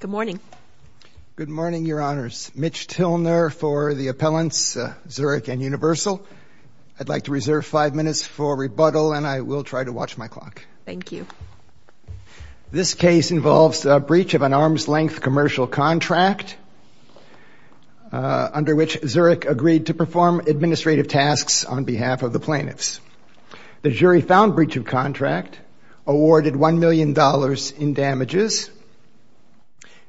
Good morning. Good morning, Your Honors. Mitch Tilner for the appellants, Zurich and Universal. I'd like to reserve five minutes for rebuttal, and I will try to watch my clock. Thank you. This case involves a breach of an arm's length commercial contract, under which Zurich agreed The jury found breach of contract, awarded $1 million in damages.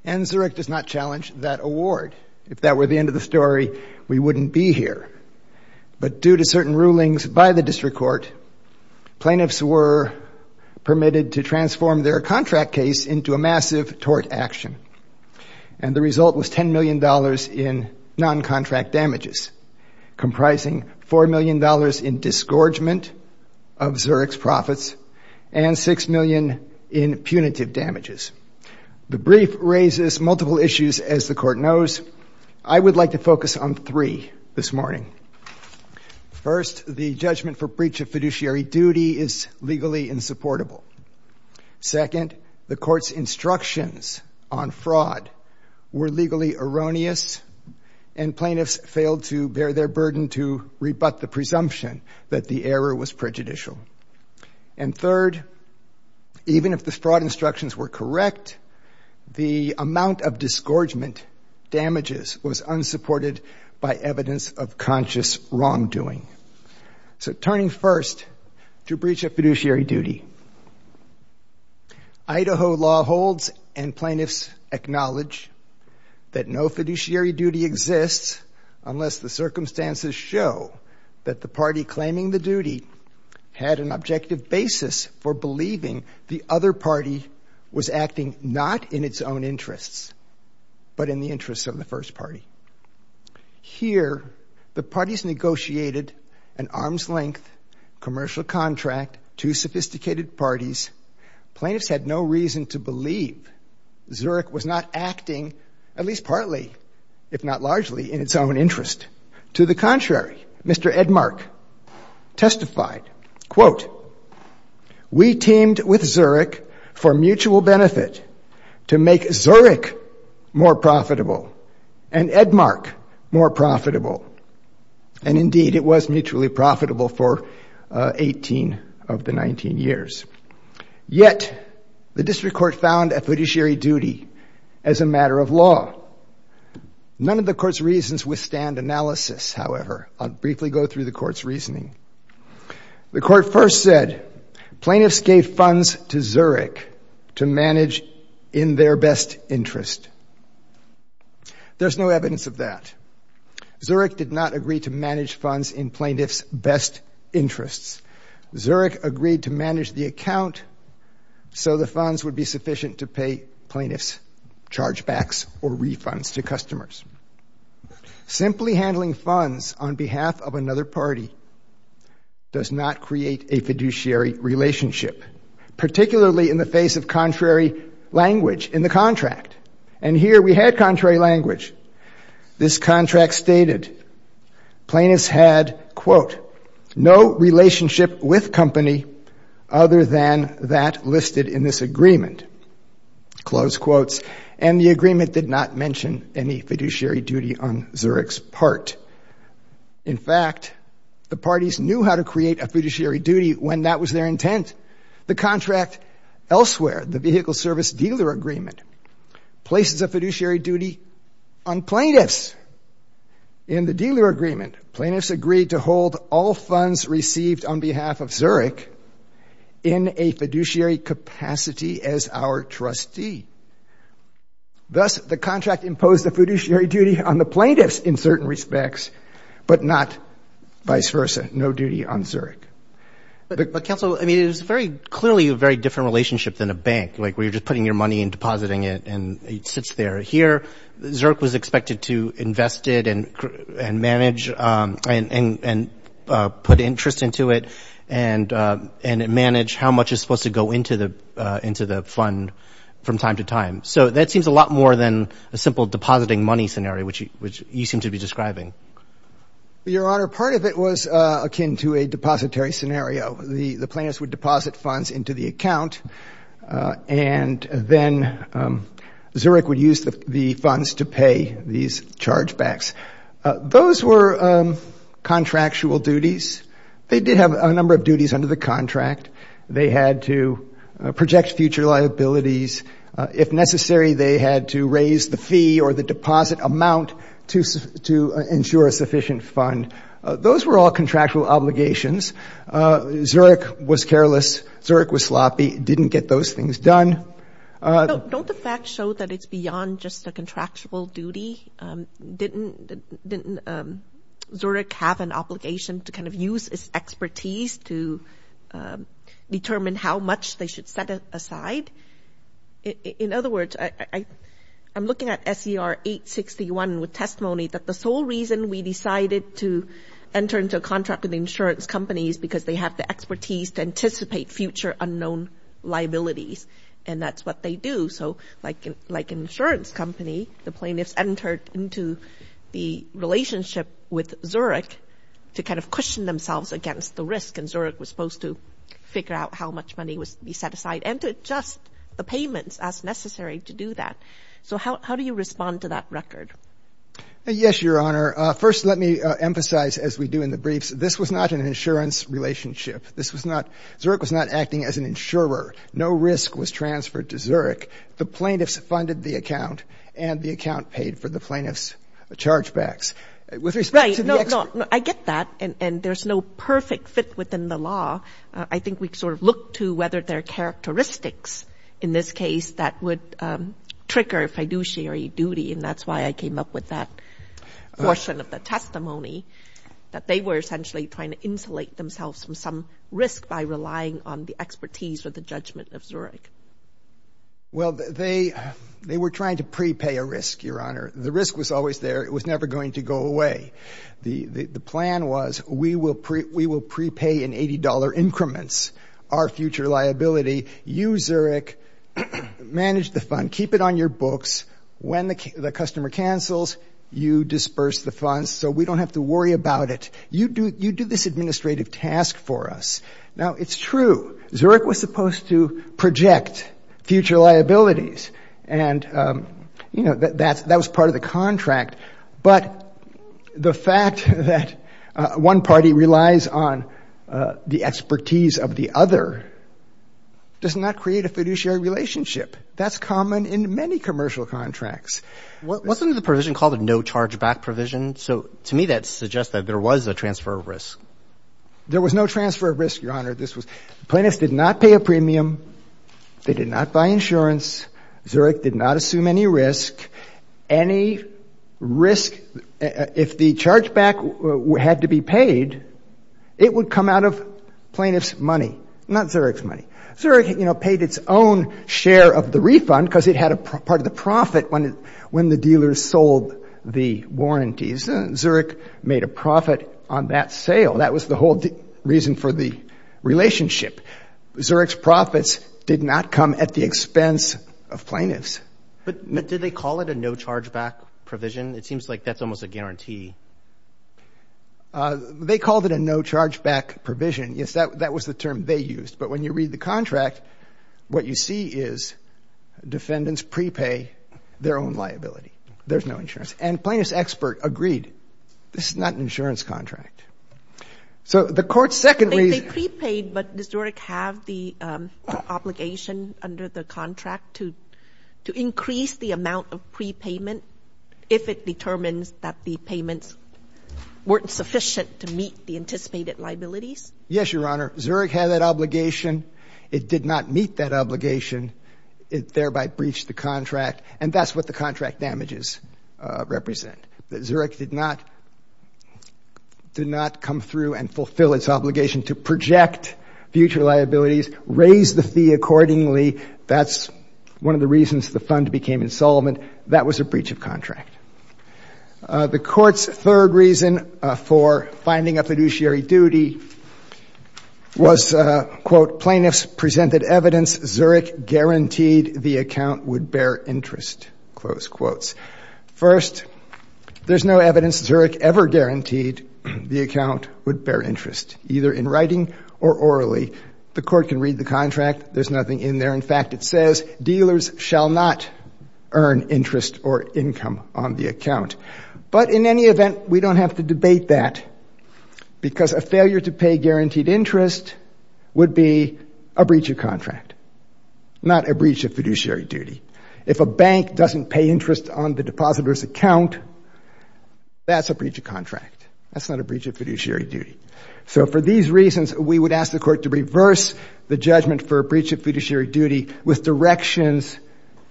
And Zurich does not challenge that award. If that were the end of the story, we wouldn't be here. But due to certain rulings by the district court, plaintiffs were permitted to transform their contract case into a massive tort action. And the result was $10 million in non-contract damages, comprising $4 million in disgorgement of Zurich's profits, and $6 million in punitive damages. The brief raises multiple issues, as the court knows. I would like to focus on three this morning. First, the judgment for breach of fiduciary duty is legally insupportable. Second, the court's instructions on fraud were legally erroneous, and plaintiffs failed to bear their burden to rebut the presumption that the error was prejudicial. And third, even if the fraud instructions were correct, the amount of disgorgement damages was unsupported by evidence of conscious wrongdoing. So turning first to breach of fiduciary duty, Idaho law holds, and plaintiffs acknowledge, that no fiduciary duty exists unless the circumstances show that the party claiming the duty had an objective basis for believing the other party was acting not in its own interests, but in the interests of the first party. Here, the parties negotiated an arm's length commercial contract, two sophisticated parties. Plaintiffs had no reason to believe Zurich was not acting, at least partly, if not largely, in its own interest. To the contrary, Mr. Edmark testified, quote, we teamed with Zurich for mutual benefit to make Zurich more profitable and Edmark more profitable. And indeed, it was mutually profitable for 18 of the 19 years. Yet, the district court found a fiduciary duty as a matter of law. None of the court's reasons withstand analysis, however. I'll briefly go through the court's reasoning. The court first said, plaintiffs gave funds to Zurich to manage in their best interest. There's no evidence of that. Zurich did not agree to manage funds in plaintiffs' best interests. Zurich agreed to manage the account so the funds would be sufficient to pay plaintiffs' chargebacks or refunds to customers. Simply handling funds on behalf of another party does not create a fiduciary relationship, particularly in the face of contrary language in the contract. And here, we had contrary language. This contract stated, plaintiffs had, quote, no relationship with company other than that listed in this agreement, close quotes. And the agreement did not mention any fiduciary duty on Zurich's part. In fact, the parties knew how to create a fiduciary duty when that was their intent. The contract elsewhere, the vehicle service dealer agreement, places a fiduciary duty on plaintiffs. In the dealer agreement, plaintiffs agreed to hold all funds received on behalf of Zurich in a fiduciary capacity as our trustee. Thus, the contract imposed a fiduciary duty on the plaintiffs in certain respects, but not vice versa, no duty on Zurich. But counsel, I mean, it is very clearly a very different relationship than a bank, like where you're just putting your money and depositing it and it sits there. Here, Zurich was expected to invest it and manage and put interest into it and manage how much is supposed to go into the fund from time to time. So that seems a lot more than a simple depositing money scenario, which you seem to be describing. Your Honor, part of it was akin to a depository scenario. The plaintiffs would deposit funds into the account, and then Zurich would use the funds to pay these chargebacks. Those were contractual duties. They did have a number of duties under the contract. They had to project future liabilities. If necessary, they had to raise the fee or the deposit amount to ensure a sufficient fund. Those were all contractual obligations. Zurich was careless. Zurich was sloppy, didn't get those things done. Don't the facts show that it's beyond just a contractual duty? Didn't Zurich have an obligation to kind of use its expertise to determine how much they should set aside? In other words, I'm looking at S.E.R. 861 with testimony that the sole reason we decided to enter into a contract with the insurance companies is because they have the expertise to anticipate future unknown liabilities, and that's what they do. So like an insurance company, the plaintiffs entered into the relationship with Zurich to kind of cushion themselves against the risk. And Zurich was supposed to figure out how much money was to be set aside and to adjust the payments as necessary to do that. So how do you respond to that record? Yes, Your Honor. First, let me emphasize, as we do in the briefs, this was not an insurance relationship. Zurich was not acting as an insurer. No risk was transferred to Zurich. The plaintiffs funded the account, and the account paid for the plaintiffs' chargebacks. With respect to the experts. I get that, and there's no perfect fit within the law. I think we sort of look to whether there are characteristics in this case that would trigger fiduciary duty, and that's why I came up with that portion of the testimony, that they were essentially trying to insulate themselves from some risk by relying on the expertise or the judgment of Zurich. Well, they were trying to prepay a risk, Your Honor. The risk was always there. It was never going to go away. The plan was, we will prepay in $80 increments our future liability. You, Zurich, manage the fund. Keep it on your books. When the customer cancels, you disperse the funds so we don't have to worry about it. You do this administrative task for us. Now, it's true. Zurich was supposed to project future liabilities, and that was part of the contract, but the fact that one party relies on the expertise of the other does not create a fiduciary relationship. That's common in many commercial contracts. Wasn't the provision called a no chargeback provision? So to me, that suggests that there was a transfer of risk. There was no transfer of risk, Your Honor. Plaintiffs did not pay a premium. They did not buy insurance. Zurich did not assume any risk. Any risk, if the chargeback had to be paid, it would come out of plaintiff's money, not Zurich's money. Zurich paid its own share of the refund because it had a part of the profit when the dealers sold the warranties. Zurich made a profit on that sale. That was the whole reason for the relationship. Zurich's profits did not come at the expense of plaintiffs. But did they call it a no chargeback provision? It seems like that's almost a guarantee. They called it a no chargeback provision. but when you read the contract, what you see is defendants prepay their own liability. There's no insurance. And plaintiff's expert agreed. This is not an insurance contract. So the court's second reason- They prepaid, but does Zurich have the obligation under the contract to increase the amount of prepayment if it determines that the payments weren't sufficient to meet the anticipated liabilities? Yes, Your Honor. Zurich had that obligation. It did not meet that obligation. It thereby breached the contract. And that's what the contract damages represent. That Zurich did not come through and fulfill its obligation to project future liabilities, raise the fee accordingly. That's one of the reasons the fund became insolvent. That was a breach of contract. The court's third reason for finding a fiduciary duty was, quote, plaintiffs presented evidence Zurich guaranteed the account would bear interest. Close quotes. First, there's no evidence Zurich ever guaranteed the account would bear interest, either in writing or orally. The court can read the contract. There's nothing in there. In fact, it says dealers shall not earn interest or income on the account. But in any event, we don't have to debate that because a failure to pay guaranteed interest would be a breach of contract, not a breach of fiduciary duty. If a bank doesn't pay interest on the depositor's account, that's a breach of contract. That's not a breach of fiduciary duty. So for these reasons, we would ask the court to reverse the judgment for a breach of fiduciary duty with directions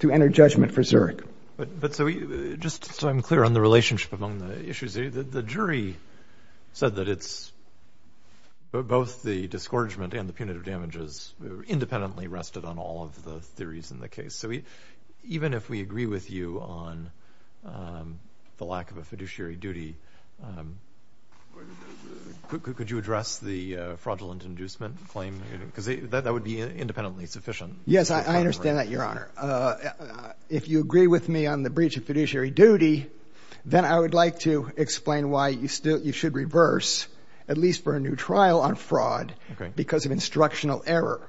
to enter judgment for Zurich. But just so I'm clear on the relationship among the issues, the jury said that it's, both the discouragement and the punitive damages independently rested on all of the theories in the case. So even if we agree with you on the lack of a fiduciary duty, could you address the fraudulent inducement claim? Because that would be independently sufficient. Yes, I understand that, Your Honor. If you agree with me on the breach of fiduciary duty, then I would like to explain why you should reverse, at least for a new trial on fraud, because of instructional error,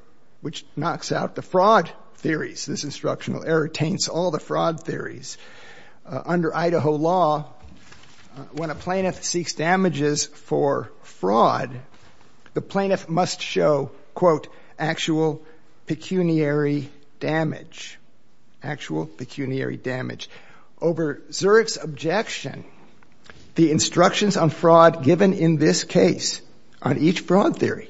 which knocks out the fraud theories. This instructional error taints all the fraud theories. Under Idaho law, when a plaintiff seeks damages for fraud, the plaintiff must show, quote, actual pecuniary damage, actual pecuniary damage. Over Zurich's objection, the instructions on fraud given in this case on each fraud theory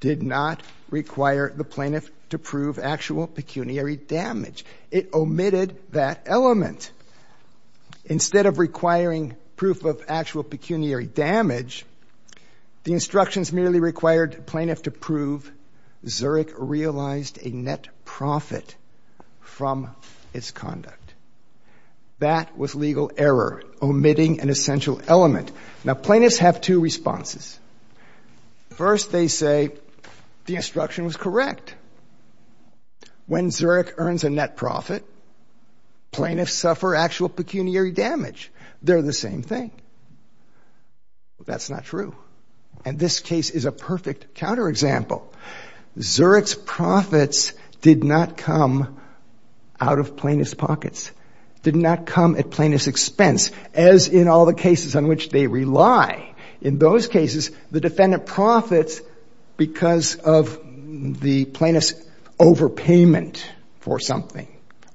did not require the plaintiff to prove actual pecuniary damage. It omitted that element. Instead of requiring proof of actual pecuniary damage, the instructions merely required plaintiff to prove Zurich realized a net profit from its conduct. That was legal error, omitting an essential element. Now, plaintiffs have two responses. First, they say the instruction was correct. When Zurich earns a net profit, plaintiffs suffer actual pecuniary damage. They're the same thing. That's not true. And this case is a perfect counterexample. Zurich's profits did not come out of plaintiff's pockets. Did not come at plaintiff's expense, as in all the cases on which they rely. In those cases, the defendant profits because of the plaintiff's overpayment for something,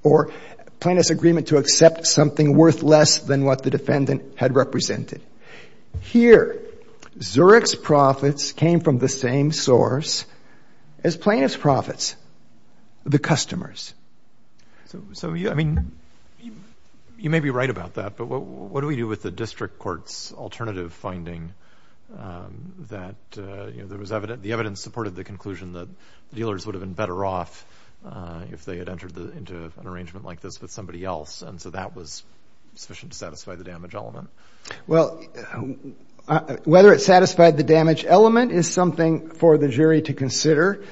or plaintiff's agreement to accept something worth less than what the defendant had represented. Here, Zurich's profits came from the same source as plaintiff's profits, the customer's. So, I mean, you may be right about that, but what do we do with the district court's alternative finding that the evidence supported the conclusion that dealers would have been better off if they had entered into an arrangement like this with somebody else? And so that was sufficient to satisfy the damage element. is something for the jury to consider.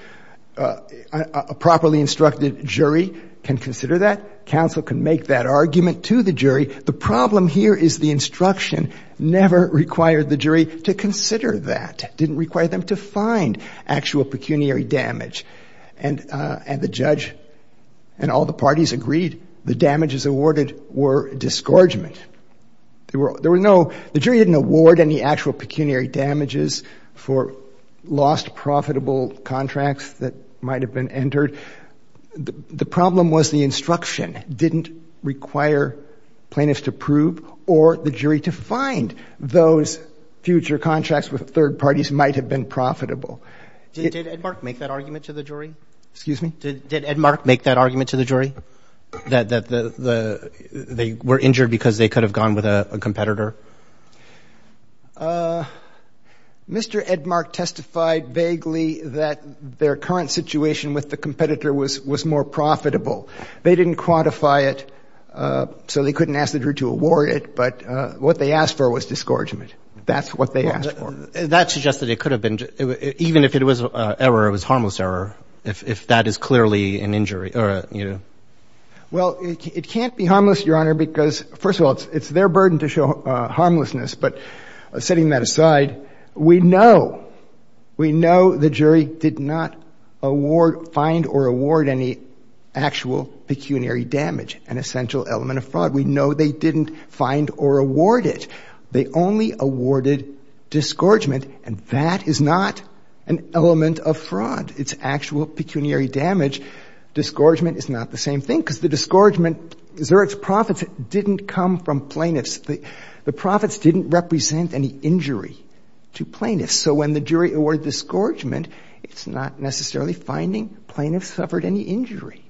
A properly instructed jury can consider that. Counsel can make that argument to the jury. The problem here is the instruction never required the jury to consider that. Didn't require them to find actual pecuniary damage. And the judge and all the parties agreed the damages awarded were disgorgement. The jury didn't award any actual pecuniary damages for lost profitable contracts that might have been entered. The problem was the instruction didn't require plaintiffs to prove or the jury to find those future contracts with third parties might have been profitable. Did Edmark make that argument to the jury? Excuse me? Did Edmark make that argument to the jury? That they were injured because they could have gone with a competitor? Mr. Edmark testified vaguely that their current situation with the competitor was more profitable. They didn't quantify it, so they couldn't ask the jury to award it, but what they asked for was disgorgement. That's what they asked for. That suggests that it could have been, even if it was an error, it was a harmless error, if that is clearly an injury. Well, it can't be harmless, Your Honor, because first of all, it's their burden to show harmlessness, but setting that aside, we know, we know the jury did not find or award any actual pecuniary damage, an essential element of fraud. We know they didn't find or award it. They only awarded disgorgement, and that is not an element of fraud. It's actual pecuniary damage. Disgorgement is not the same thing, because the disgorgement, is there its profits didn't come from plaintiffs. The profits didn't represent any injury to plaintiffs, so when the jury awarded disgorgement, it's not necessarily finding plaintiffs suffered any injury.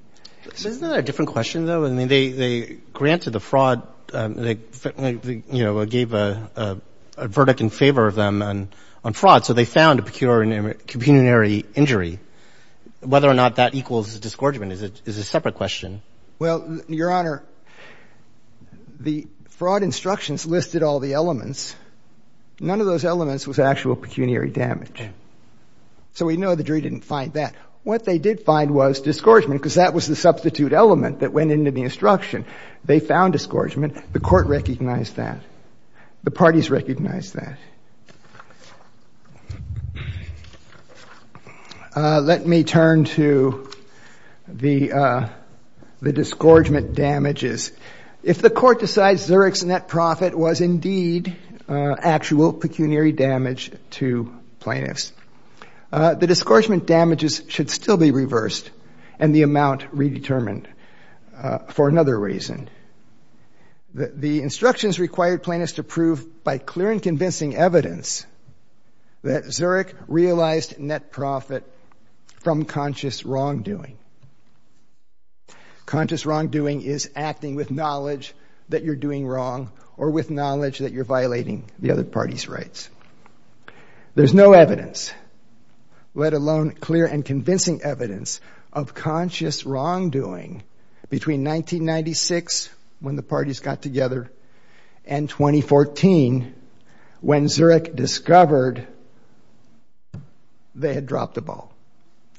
So isn't that a different question, though? I mean, they granted the fraud, they gave a verdict in favor of them on fraud, so they found a pecuniary injury. Whether or not that equals disgorgement is a separate question. Well, Your Honor, the fraud instructions listed all the elements. None of those elements was actual pecuniary damage. So we know the jury didn't find that. What they did find was disgorgement, because that was the substitute element that went into the instruction. They found disgorgement. The court recognized that. The parties recognized that. Let me turn to the disgorgement damages. If the court decides Zurek's net profit was indeed actual pecuniary damage to plaintiffs, the disgorgement damages should still be reversed, and the amount redetermined for another reason. The instructions required plaintiffs to prove by clear and convincing evidence that Zurek realized net profit from conscious wrongdoing. Conscious wrongdoing is acting with knowledge that you're doing wrong, or with knowledge that you're violating the other party's rights. There's no evidence, let alone clear and convincing evidence of conscious wrongdoing between 1996, when the parties got together, and 2014, when Zurek discovered they had dropped the ball.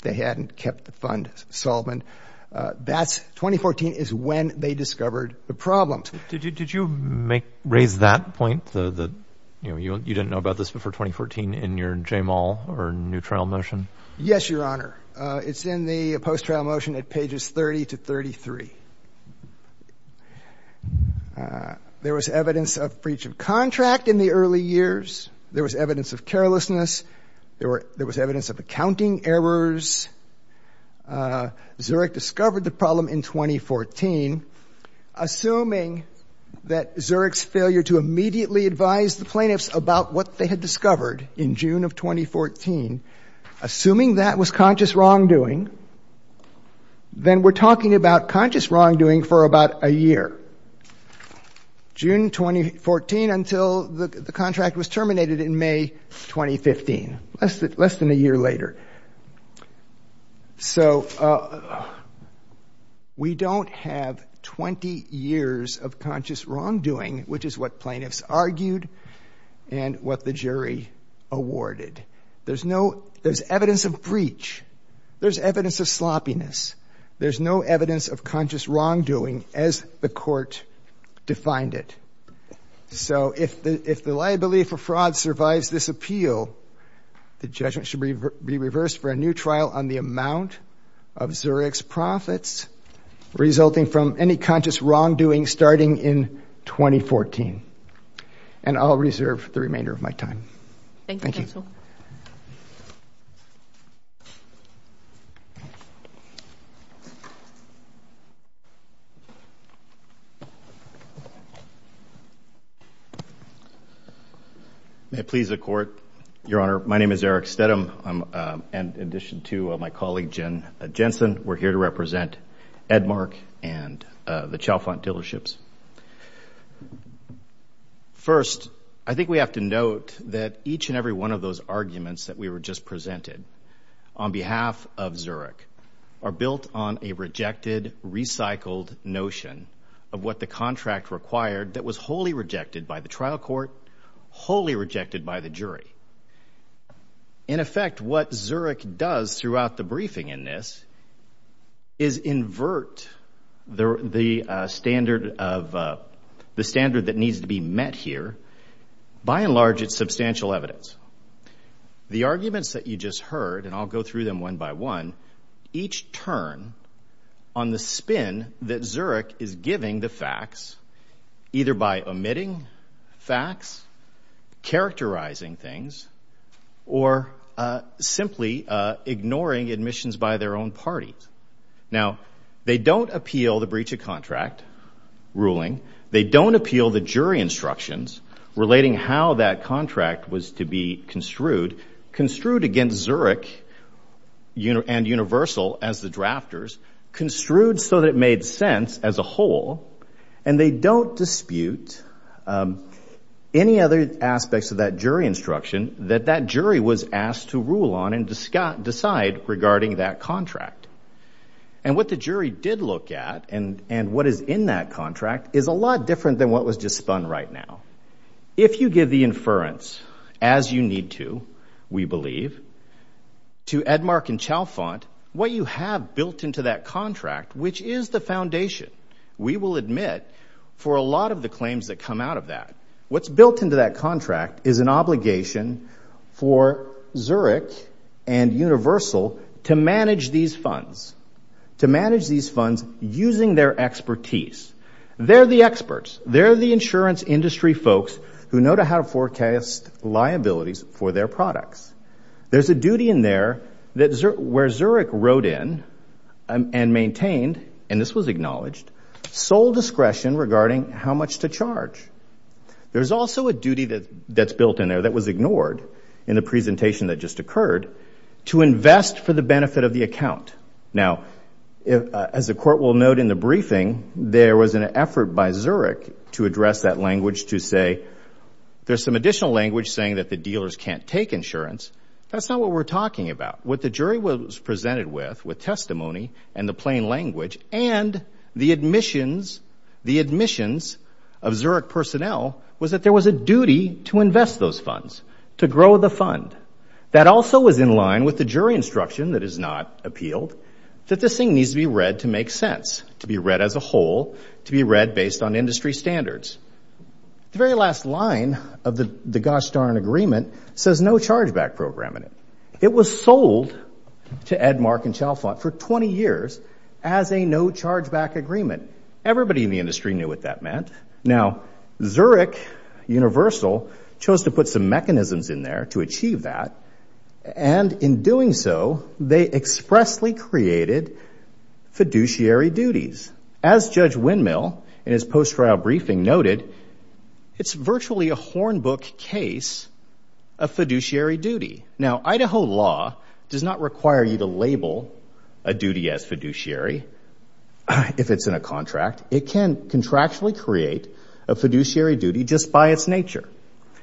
They hadn't kept the fund solvent. That's, 2014 is when they discovered the problem. Did you raise that point, that you didn't know about this before 2014 in your J-Mall or new trial motion? Yes, Your Honor. It's in the post-trial motion at pages 30 to 33. There was evidence of breach of contract in the early years. There was evidence of carelessness. There was evidence of accounting errors. Zurek discovered the problem in 2014. Assuming that Zurek's failure to immediately advise the plaintiffs about what they had discovered in June of 2014, assuming that was conscious wrongdoing, then we're talking about conscious wrongdoing for about a year. June 2014 until the contract was terminated in May 2015, less than a year later. So, we don't have 20 years of conscious wrongdoing, which is what plaintiffs argued and what the jury awarded. There's no, there's evidence of breach. There's evidence of sloppiness. There's no evidence of conscious wrongdoing as the court defined it. So, if the liability for fraud survives this appeal, the judgment should be reversed for a new trial on the amount of Zurek's profits resulting from any conscious wrongdoing starting in 2014. And I'll reserve the remainder of my time. Thank you. Thank you. May it please the court. Your Honor, my name is Eric Stedham. And in addition to my colleague, Jen Jensen, we're here to represent Edmark and the Chalfant Dealerships. First, I think we have to note that each and every one of those arguments that we were just presented on behalf of Zurek are built on a rejected, recycled notion of what the contract required that was wholly rejected by the trial court, wholly rejected by the jury. In effect, what Zurek does throughout the briefing in this is invert the standard of, the standard that needs to be met here, by and large, it's substantial evidence. The arguments that you just heard, and I'll go through them one by one, each turn on the spin that Zurek is giving the facts, either by omitting facts, characterizing things, or simply ignoring admissions by their own parties. Now, they don't appeal the breach of contract ruling. They don't appeal the jury instructions relating how that contract was to be construed, construed against Zurek and Universal as the drafters, construed so that it made sense as a whole, and they don't dispute any other aspects of that jury instruction that that jury was asked to rule on and decide regarding that contract. And what the jury did look at and what is in that contract is a lot different than what was just spun right now. If you give the inference, as you need to, we believe, to Edmark and Chalfant, what you have built into that contract, which is the foundation, we will admit, for a lot of the claims that come out of that, what's built into that contract is an obligation for Zurek and Universal to manage these funds, to manage these funds using their expertise. They're the experts. They're the insurance industry folks who know how to forecast liabilities for their products. There's a duty in there where Zurek wrote in and maintained, and this was acknowledged, sole discretion regarding how much to charge. There's also a duty that's built in there that was ignored in the presentation that just occurred to invest for the benefit of the account. Now, as the court will note in the briefing, there was an effort by Zurek to address that language, to say, there's some additional language saying that the dealers can't take insurance. That's not what we're talking about. What the jury was presented with, with testimony and the plain language, and the admissions of Zurek personnel, was that there was a duty to invest those funds, to grow the fund. That also was in line with the jury instruction that is not appealed, that this thing needs to be read to make sense, to be read as a whole, to be read based on industry standards. The very last line of the gosh darn agreement says no chargeback program in it. It was sold to Edmark and Chalfant for 20 years as a no chargeback agreement. Everybody in the industry knew what that meant. Now, Zurek Universal chose to put some mechanisms in there to achieve that, and in doing so, they expressly created fiduciary duties. As Judge Windmill in his post-trial briefing noted, it's virtually a hornbook case of fiduciary duty. Now, Idaho law does not require you to label a duty as fiduciary if it's in a contract. It can contractually create a fiduciary duty just by its nature.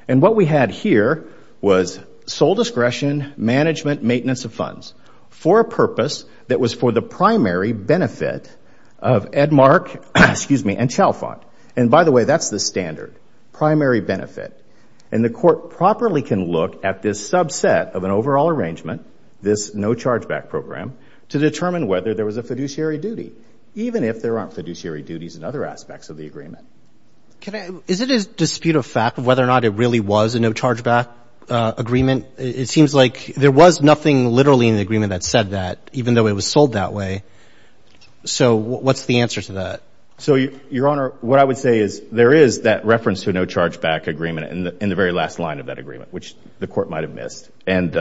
And what we had here was sole discretion, management, maintenance of funds for a purpose that was for the primary benefit of Edmark, excuse me, and Chalfant. And by the way, that's the standard, primary benefit. And the court properly can look at this subset of an overall arrangement, this no chargeback program, to determine whether there was a fiduciary duty, even if there aren't fiduciary duties in other aspects of the agreement. Is it a dispute of fact of whether or not it really was a no chargeback agreement? It seems like there was nothing literally in the agreement that said that, even though it was sold that way. So what's the answer to that? So, Your Honor, what I would say is, there is that reference to a no chargeback agreement in the very last line of that agreement, which the court might have missed. And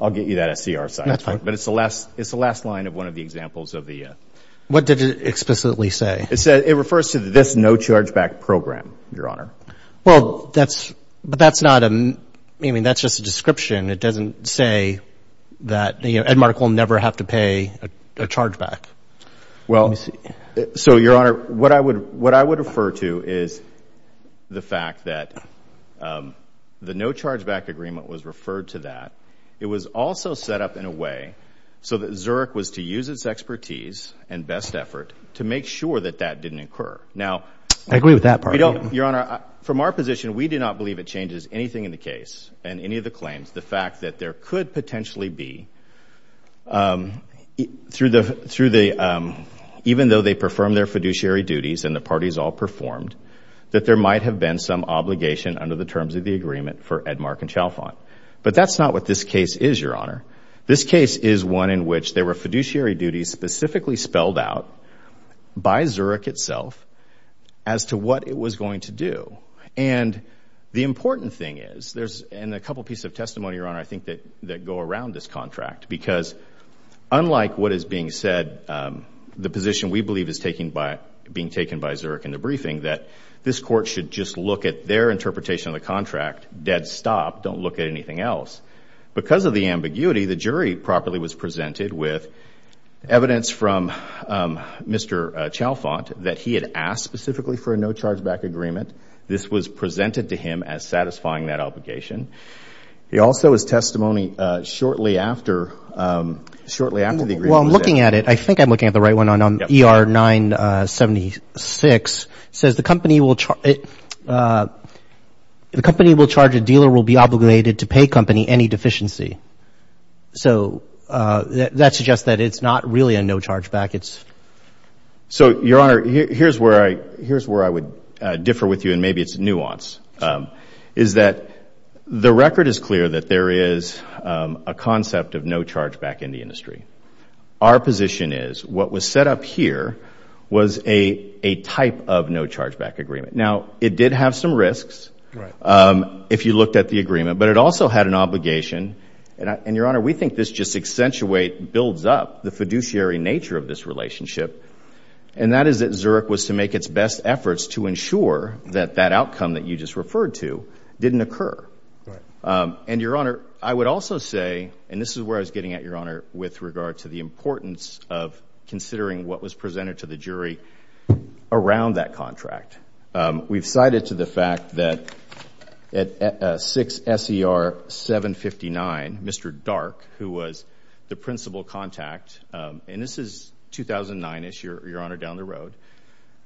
I'll get you that at CR side. But it's the last line of one of the examples of the... What did it explicitly say? It refers to this no chargeback program, Your Honor. Well, that's, but that's not a... I mean, that's just a description. It doesn't say that, you know, Edmark will never have to pay a chargeback. Well, so, Your Honor, what I would refer to is the fact that the no chargeback agreement was referred to that. It was also set up in a way so that Zurich was to use its expertise and best effort to make sure that that didn't occur. Now... I agree with that part. Your Honor, from our position, we do not believe it changes anything in the case and any of the claims. The fact that there could potentially be, even though they perform their fiduciary duties and the parties all performed, that there might have been some obligation under the terms of the agreement for Edmark and Chalfant. But that's not what this case is, Your Honor. This case is one in which there were fiduciary duties specifically spelled out by Zurich itself as to what it was going to do. And the important thing is, there's a couple of pieces of testimony, Your Honor, I think that go around this contract because unlike what is being said, the position we believe is being taken by Zurich in the briefing that this court should just look at their interpretation of the contract, dead stop, don't look at anything else. Because of the ambiguity, the jury properly was presented with evidence from Mr. Chalfant that he had asked specifically for a no charge back agreement. This was presented to him as satisfying that obligation. He also has testimony shortly after the agreement was set. Well, I'm looking at it, I think I'm looking at the right one on ER 976, says the company will charge a dealer will be obligated to pay company any deficiency. So that suggests that it's not really a no charge back. It's... So, Your Honor, here's where I would differ with you and maybe it's nuance, is that the record is clear that there is a concept of no charge back in the industry. Our position is what was set up here was a type of no charge back agreement. Now, it did have some risks if you looked at the agreement, but it also had an obligation and Your Honor, we think this just accentuate, builds up the fiduciary nature of this relationship. And that is that Zurich was to make its best efforts to ensure that that outcome that you just referred to didn't occur. And Your Honor, I would also say, and this is where I was getting at Your Honor, with regard to the importance of considering what was presented to the jury around that contract. We've cited to the fact that at 6SER759, Mr. Dark, who was the principal contact, and this is 2009-ish, Your Honor, down the road,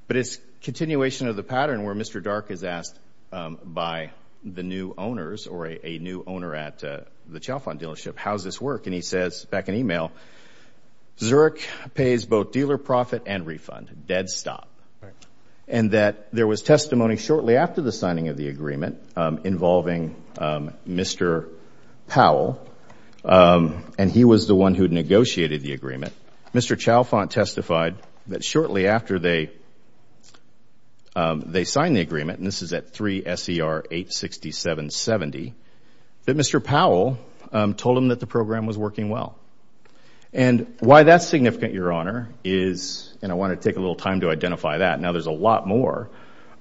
but it's continuation of the pattern where Mr. Dark is asked by the new owners or a new owner at the Chalfont dealership, how's this work? And he says, back in email, Zurich pays both dealer profit and refund, dead stop. And that there was testimony shortly after the signing of the agreement involving Mr. Powell, and he was the one who negotiated the agreement. Mr. Chalfont testified that shortly after they signed the agreement, and this is at 3SER86770, that Mr. Powell told him that the program was working well. And why that's significant, Your Honor, is, and I want to take a little time to identify that, now there's a lot more,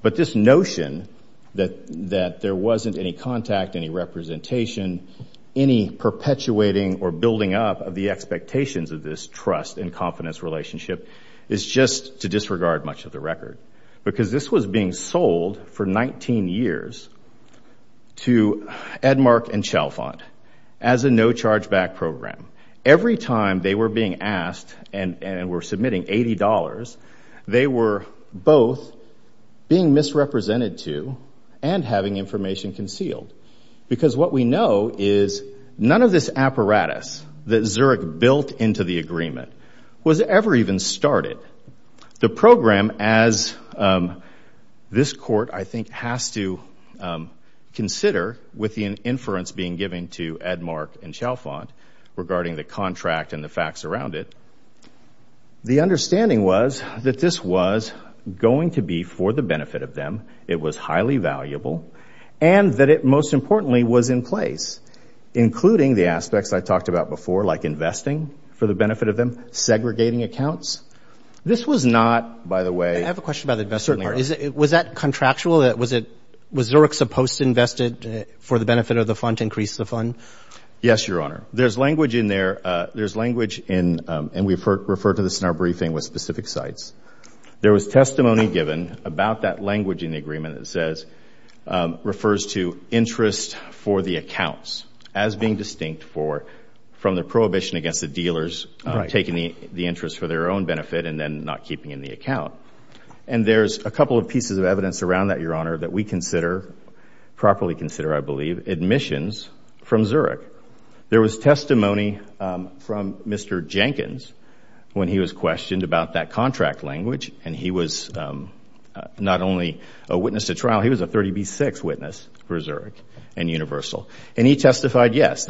but this notion that there wasn't any contact, any representation, any perpetuating or building up of the expectations of this trust and confidence relationship is just to disregard much of the record. Because this was being sold for 19 years to Edmark and Chalfont as a no charge back program. Every time they were being asked and were submitting $80, they were both being misrepresented to and having information concealed. Because what we know is none of this apparatus that Zurich built into the agreement was ever even started. The program, as this court, I think, has to consider with the inference being given to Edmark and Chalfont regarding the contract and the facts around it, the understanding was that this was going to be for the benefit of them, it was highly valuable, and that it most importantly was in place, including the aspects I talked about before, like investing for the benefit of them, segregating accounts. This was not, by the way- I have a question about the investment part. Was that contractual? Was Zurich supposed to invest it for the benefit of the fund to increase the fund? Yes, Your Honor. There's language in there, there's language in, and we've referred to this in our briefing with specific sites, there was testimony given about that language in the agreement that says, refers to interest for the accounts as being distinct for, from the prohibition against the dealers taking the interest for their own benefit and then not keeping in the account. And there's a couple of pieces of evidence around that, Your Honor, that we consider, properly consider, I believe, admissions from Zurich. There was testimony from Mr. Jenkins when he was questioned about that contract language and he was not only a witness to trial, he was a 30B6 witness for Zurich and Universal. And he testified, yes,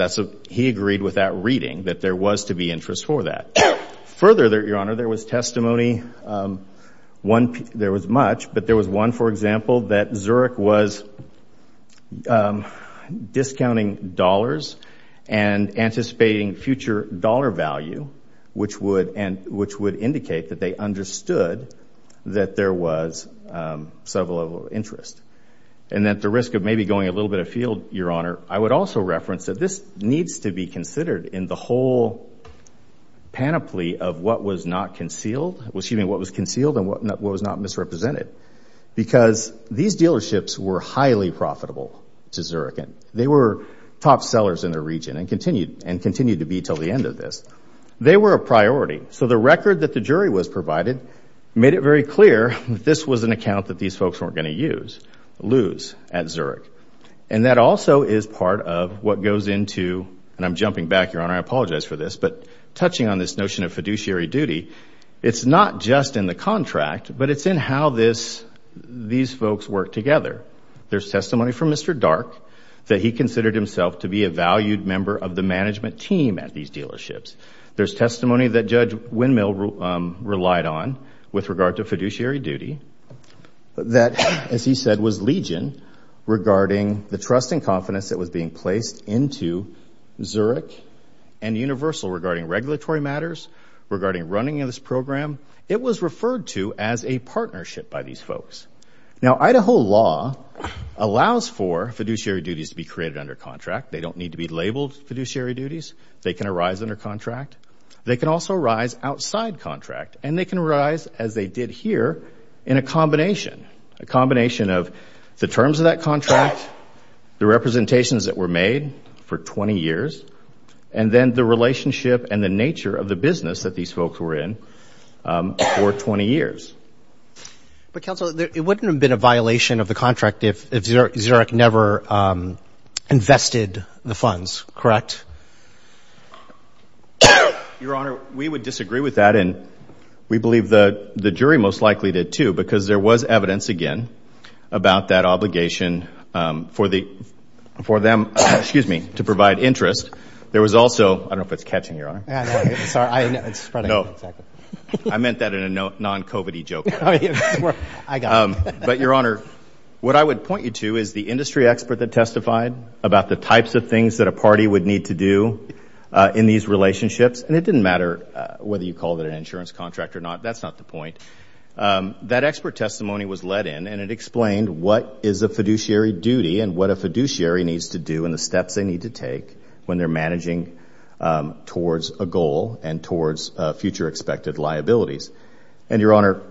he agreed with that reading that there was to be interest for that. Further, Your Honor, there was testimony, one, there was much, but there was one, for example, that Zurich was discounting dollars and anticipating future dollar value, which would indicate that they understood that there was sub-level interest. And at the risk of maybe going a little bit afield, Your Honor, I would also reference that this needs to be considered in the whole panoply of what was not concealed, well, excuse me, what was concealed and what was not misrepresented because these dealerships were highly profitable to Zurich and they were top sellers in their region and continued to be till the end of this. They were a priority. So the record that the jury was provided made it very clear that this was an account that these folks weren't gonna use, lose at Zurich. And that also is part of what goes into, and I'm jumping back, Your Honor, I apologize for this, but touching on this notion of fiduciary duty, it's not just in the contract, but it's in how these folks work together. There's testimony from Mr. Dark that he considered himself to be a valued member of the management team at these dealerships. There's testimony that Judge Windmill relied on with regard to fiduciary duty, that, as he said, was legion regarding the trust and confidence that was being placed into Zurich and Universal regarding regulatory matters, regarding running of this program. It was referred to as a partnership by these folks. Now, Idaho law allows for fiduciary duties to be created under contract. They don't need to be labeled fiduciary duties. They can arise under contract. They can also arise outside contract, and they can arise, as they did here, in a combination, a combination of the terms of that contract, the representations that were made for 20 years, and then the relationship and the nature of the business that these folks were in for 20 years. But, counsel, it wouldn't have been a violation of the contract if Zurich never invested the funds, correct? Your Honor, we would disagree with that, and we believe the jury most likely did, too, because there was evidence, again, about that obligation for them, excuse me, to provide interest. There was also, I don't know if it's catching, Your Honor. Yeah, no, sorry, it's spreading. No, I meant that in a non-COVID-y jurisdiction. I got it. But, Your Honor, what I would point you to is the industry expert that testified about the types of things that a party would need to do in these relationships, and it didn't matter whether you called it an insurance contract or not. That's not the point. That expert testimony was let in, and it explained what is a fiduciary duty and what a fiduciary needs to do and the steps they need to take when they're managing towards a goal and towards future expected liabilities. And, Your Honor,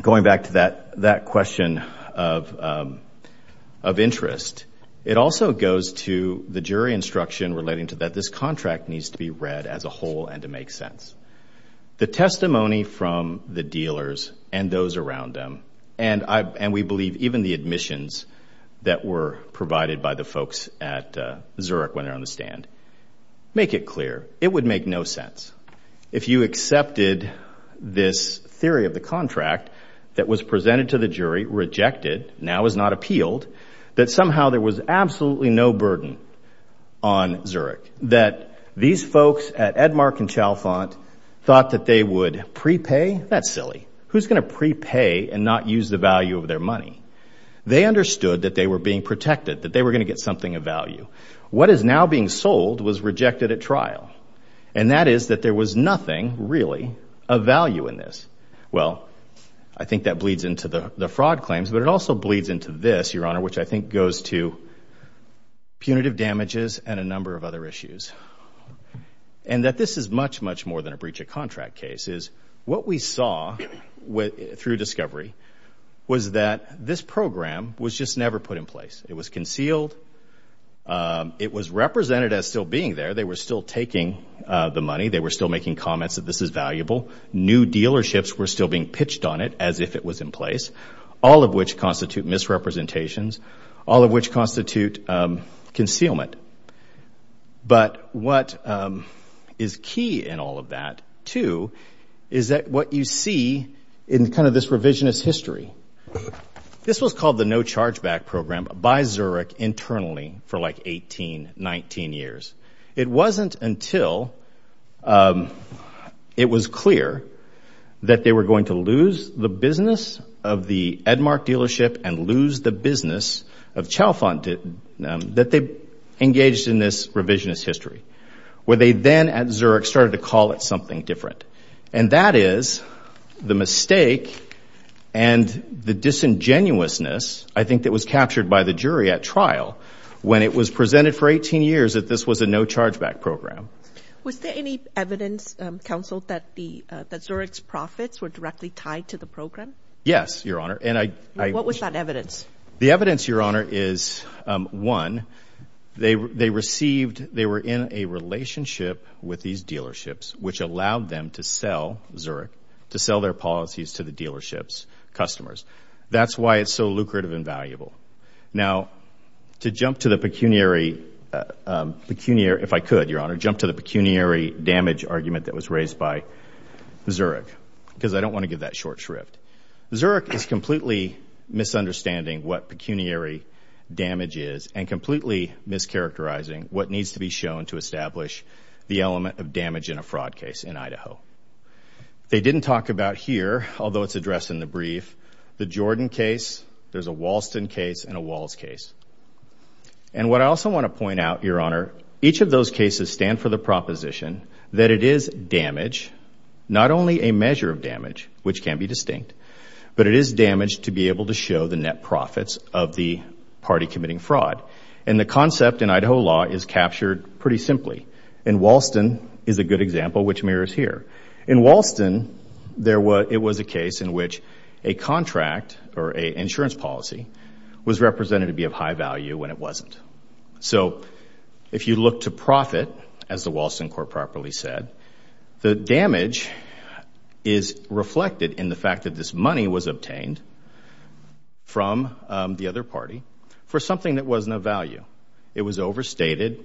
going back to that question of interest, it also goes to the jury instruction relating to that this contract needs to be read as a whole and to make sense. The testimony from the dealers and those around them, and we believe even the admissions that were provided by the folks at Zurich when they're on the stand, make it clear. It would make no sense. If you accepted this theory of the contract that was presented to the jury, rejected, now is not appealed, that somehow there was absolutely no burden on Zurich, that these folks at Edmark and Chalfant thought that they would prepay. That's silly. Who's gonna prepay and not use the value of their money? They understood that they were being protected, that they were gonna get something of value. What is now being sold was rejected at trial, and that is that there was nothing really of value in this. Well, I think that bleeds into the fraud claims, but it also bleeds into this, Your Honor, which I think goes to punitive damages and a number of other issues, and that this is much, much more than a breach of contract case, is what we saw through discovery was that this program was just never put in place. It was concealed. It was represented as still being there. They were still taking the money. They were still making comments that this is valuable. New dealerships were still being pitched on it as if it was in place, all of which constitute misrepresentations, all of which constitute concealment, but what is key in all of that, too, is that what you see in kind of this revisionist history. This was called the No Chargeback Program by Zurich internally for like 18, 19 years. It wasn't until it was clear that they were going to lose the business of the Edmarc dealership and lose the business of Chalfant that they engaged in this revisionist history, where they then at Zurich started to call it something different, and that is the mistake and the disingenuousness, I think, that was captured by the jury at trial when it was presented for 18 years that this was a No Chargeback Program. Was there any evidence, counsel, that Zurich's profits were directly tied to the program? Yes, Your Honor, and I- What was that evidence? The evidence, Your Honor, is one, they received, they were in a relationship with these dealerships, which allowed them to sell Zurich, to sell their policies to the dealership's customers. That's why it's so lucrative and valuable. Now, to jump to the pecuniary, if I could, Your Honor, jump to the pecuniary damage argument that was raised by Zurich, because I don't want to give that short shrift. Zurich is completely misunderstanding what pecuniary damage is, and completely mischaracterizing what needs to be shown to establish the element of damage in a fraud case in Idaho. They didn't talk about here, although it's addressed in the brief, the Jordan case, there's a Walston case, and a Walls case. And what I also want to point out, Your Honor, each of those cases stand for the proposition that it is damage, not only a measure of damage, which can be distinct, but it is damage to be able to show the net profits of the party committing fraud. And the concept in Idaho law is captured pretty simply. In Walston, is a good example, which mirrors here. In Walston, it was a case in which a contract, or a insurance policy, was represented to be of high value when it wasn't. So, if you look to profit, as the Walston court properly said, the damage is reflected in the fact that this money was obtained from the other party for something that wasn't of value. It was overstated,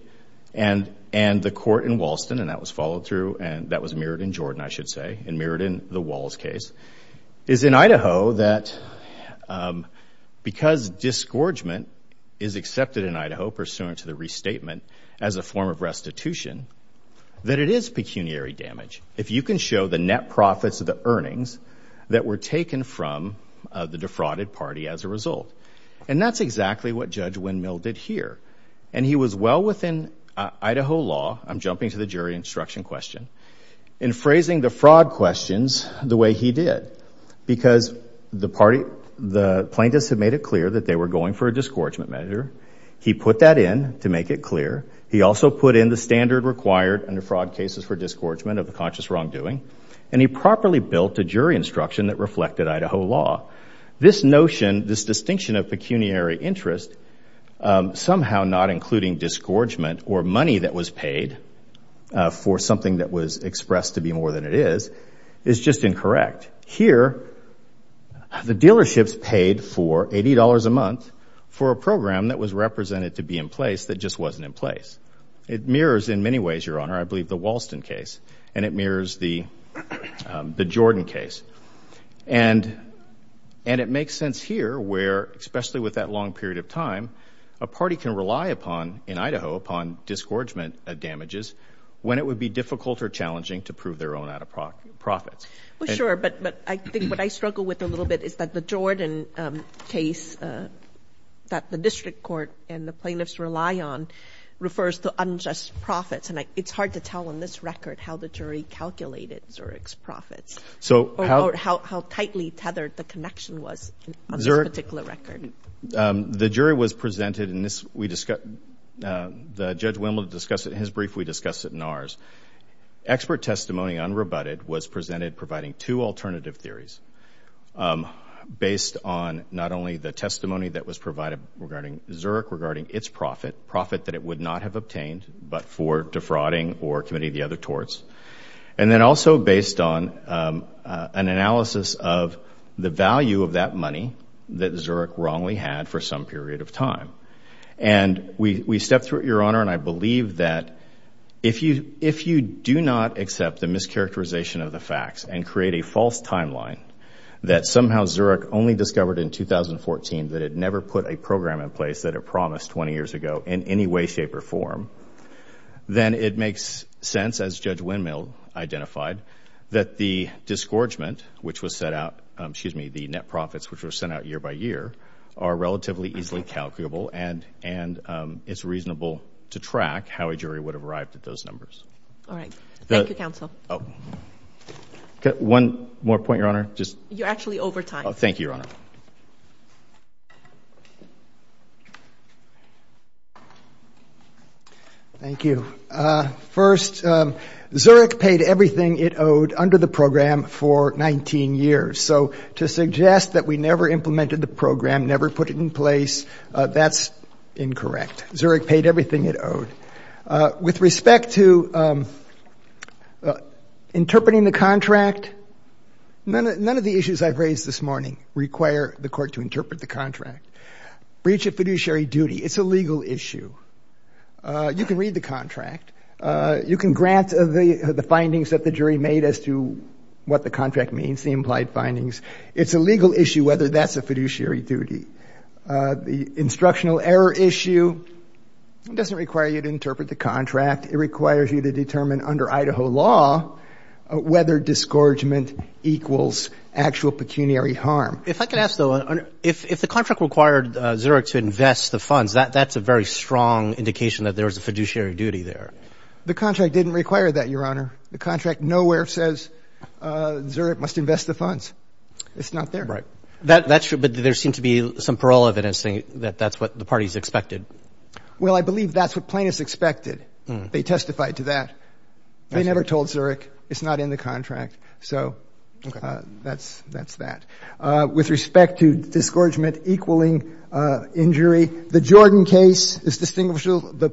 and the court in Walston, and that was followed through, and that was mirrored in Jordan, I should say, and mirrored in the Walls case, is in Idaho that because disgorgement is accepted in Idaho pursuant to the restatement as a form of restitution, that it is pecuniary damage if you can show the net profits of the earnings that were taken from the defrauded party as a result. And that's exactly what Judge Windmill did here. And he was well within Idaho law, I'm jumping to the jury instruction question, in phrasing the fraud questions the way he did. Because the plaintiffs had made it clear that they were going for a disgorgement measure. He put that in to make it clear. He also put in the standard required under fraud cases for disgorgement of the conscious wrongdoing. And he properly built a jury instruction that reflected Idaho law. This notion, this distinction of pecuniary interest, somehow not including disgorgement, or money that was paid for something that was expressed to be more than it is, is just incorrect. Here, the dealerships paid for $80 a month for a program that was represented to be in place that just wasn't in place. It mirrors in many ways, Your Honor, I believe the Walston case. And it mirrors the Jordan case. And it makes sense here where, especially with that long period of time, a party can rely upon, in Idaho, upon disgorgement of damages when it would be difficult or challenging to prove their own out of profits. Well, sure. But I think what I struggle with a little bit is that the Jordan case that the district court and the plaintiffs rely on refers to unjust profits. And it's hard to tell on this record how the jury calculated Zurich's profits. So how tightly tethered the connection was on this particular record. The jury was presented in this, we discussed, the Judge Wimble discussed it in his brief, we discussed it in ours. Expert testimony unrebutted was presented providing two alternative theories based on not only the testimony that was provided regarding Zurich, regarding its profit, profit that it would not have obtained, but for defrauding or committing the other torts. And then also based on an analysis of the value of that money that Zurich wrongly had for some period of time. And we stepped through it, Your Honor, and I believe that if you do not accept the mischaracterization of the facts and create a false timeline that somehow Zurich only discovered in 2014 that it never put a program in place that it promised 20 years ago in any way, shape, or form, then it makes sense, as Judge Wimble identified, that the disgorgement which was set out, excuse me, the net profits which were sent out year by year are relatively easily calculable and it's reasonable to track how a jury would have arrived at those numbers. All right, thank you, counsel. Oh, one more point, Your Honor, just. You're actually over time. Oh, thank you, Your Honor. Thank you. First, Zurich paid everything it owed under the program for 19 years. So to suggest that we never implemented the program, never put it in place, that's incorrect. Zurich paid everything it owed. With respect to interpreting the contract, none of the issues I've raised this morning require the court to interpret the contract. Breach of fiduciary duty, it's a legal issue. You can read the contract. You can grant the findings that the jury made as to what the contract means, the implied findings. It's a legal issue whether that's a fiduciary duty. The instructional error issue doesn't require you to interpret the contract. It requires you to determine under Idaho law whether disgorgement equals actual pecuniary harm. If I could ask though, if the contract required Zurich to invest the funds, that's a very strong indication that there was a fiduciary duty there. The contract didn't require that, Your Honor. The contract nowhere says Zurich must invest the funds. It's not there. That's true, but there seemed to be some parole evidence saying that that's what the parties expected. Well, I believe that's what plaintiffs expected. They testified to that. They never told Zurich it's not in the contract. So that's that. With respect to disgorgement equaling injury, The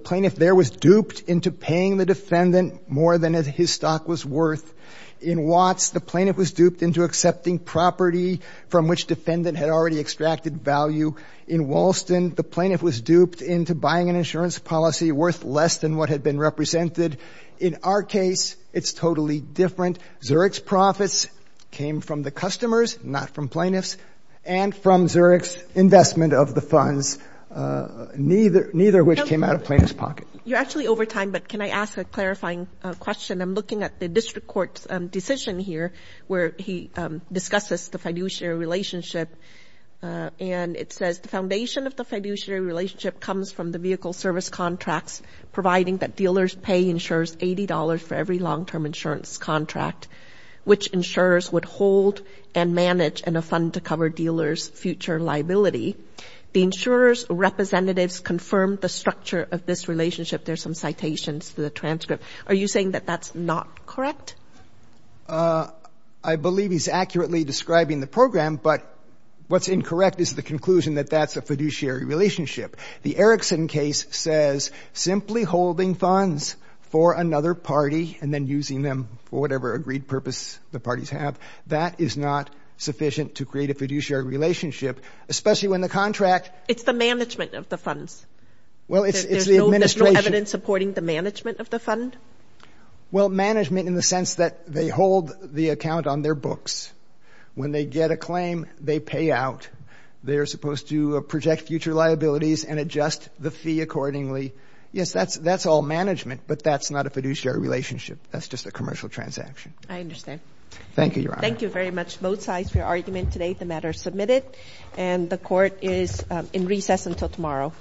plaintiff there was duped into paying the defendant more than his stock was worth. In Watts, the plaintiff was duped into accepting property from which defendant had already extracted value. In Walston, the plaintiff was duped into buying an insurance policy worth less than what had been represented. In our case, it's totally different. Zurich's profits came from the customers, not from plaintiffs, and from Zurich's investment of the funds, neither of which came out of plaintiff's pocket. You're actually over time, but can I ask a clarifying question? I'm looking at the district court's decision here, where he discusses the fiduciary relationship. And it says, the foundation of the fiduciary relationship comes from the vehicle service contracts, providing that dealers pay insurers $80 for every long-term insurance contract, which insurers would hold and manage in a fund to cover dealers' future liability. The insurer's representatives confirmed the structure of this relationship. There's some citations to the transcript. Are you saying that that's not correct? I believe he's accurately describing the program, but what's incorrect is the conclusion that that's a fiduciary relationship. The Erickson case says, simply holding funds for another party and then using them for whatever agreed purpose the parties have, that is not sufficient to create a fiduciary relationship, especially when the contract- It's the management of the funds. Well, it's the administration. There's no evidence supporting the management of the fund? Well, management in the sense that they hold the account on their books. When they get a claim, they pay out. They're supposed to project future liabilities and adjust the fee accordingly. Yes, that's all management, but that's not a fiduciary relationship. That's just a commercial transaction. I understand. Thank you, Your Honor. Thank you very much, both sides, for your argument today. The matter is submitted, and the court is in recess until tomorrow.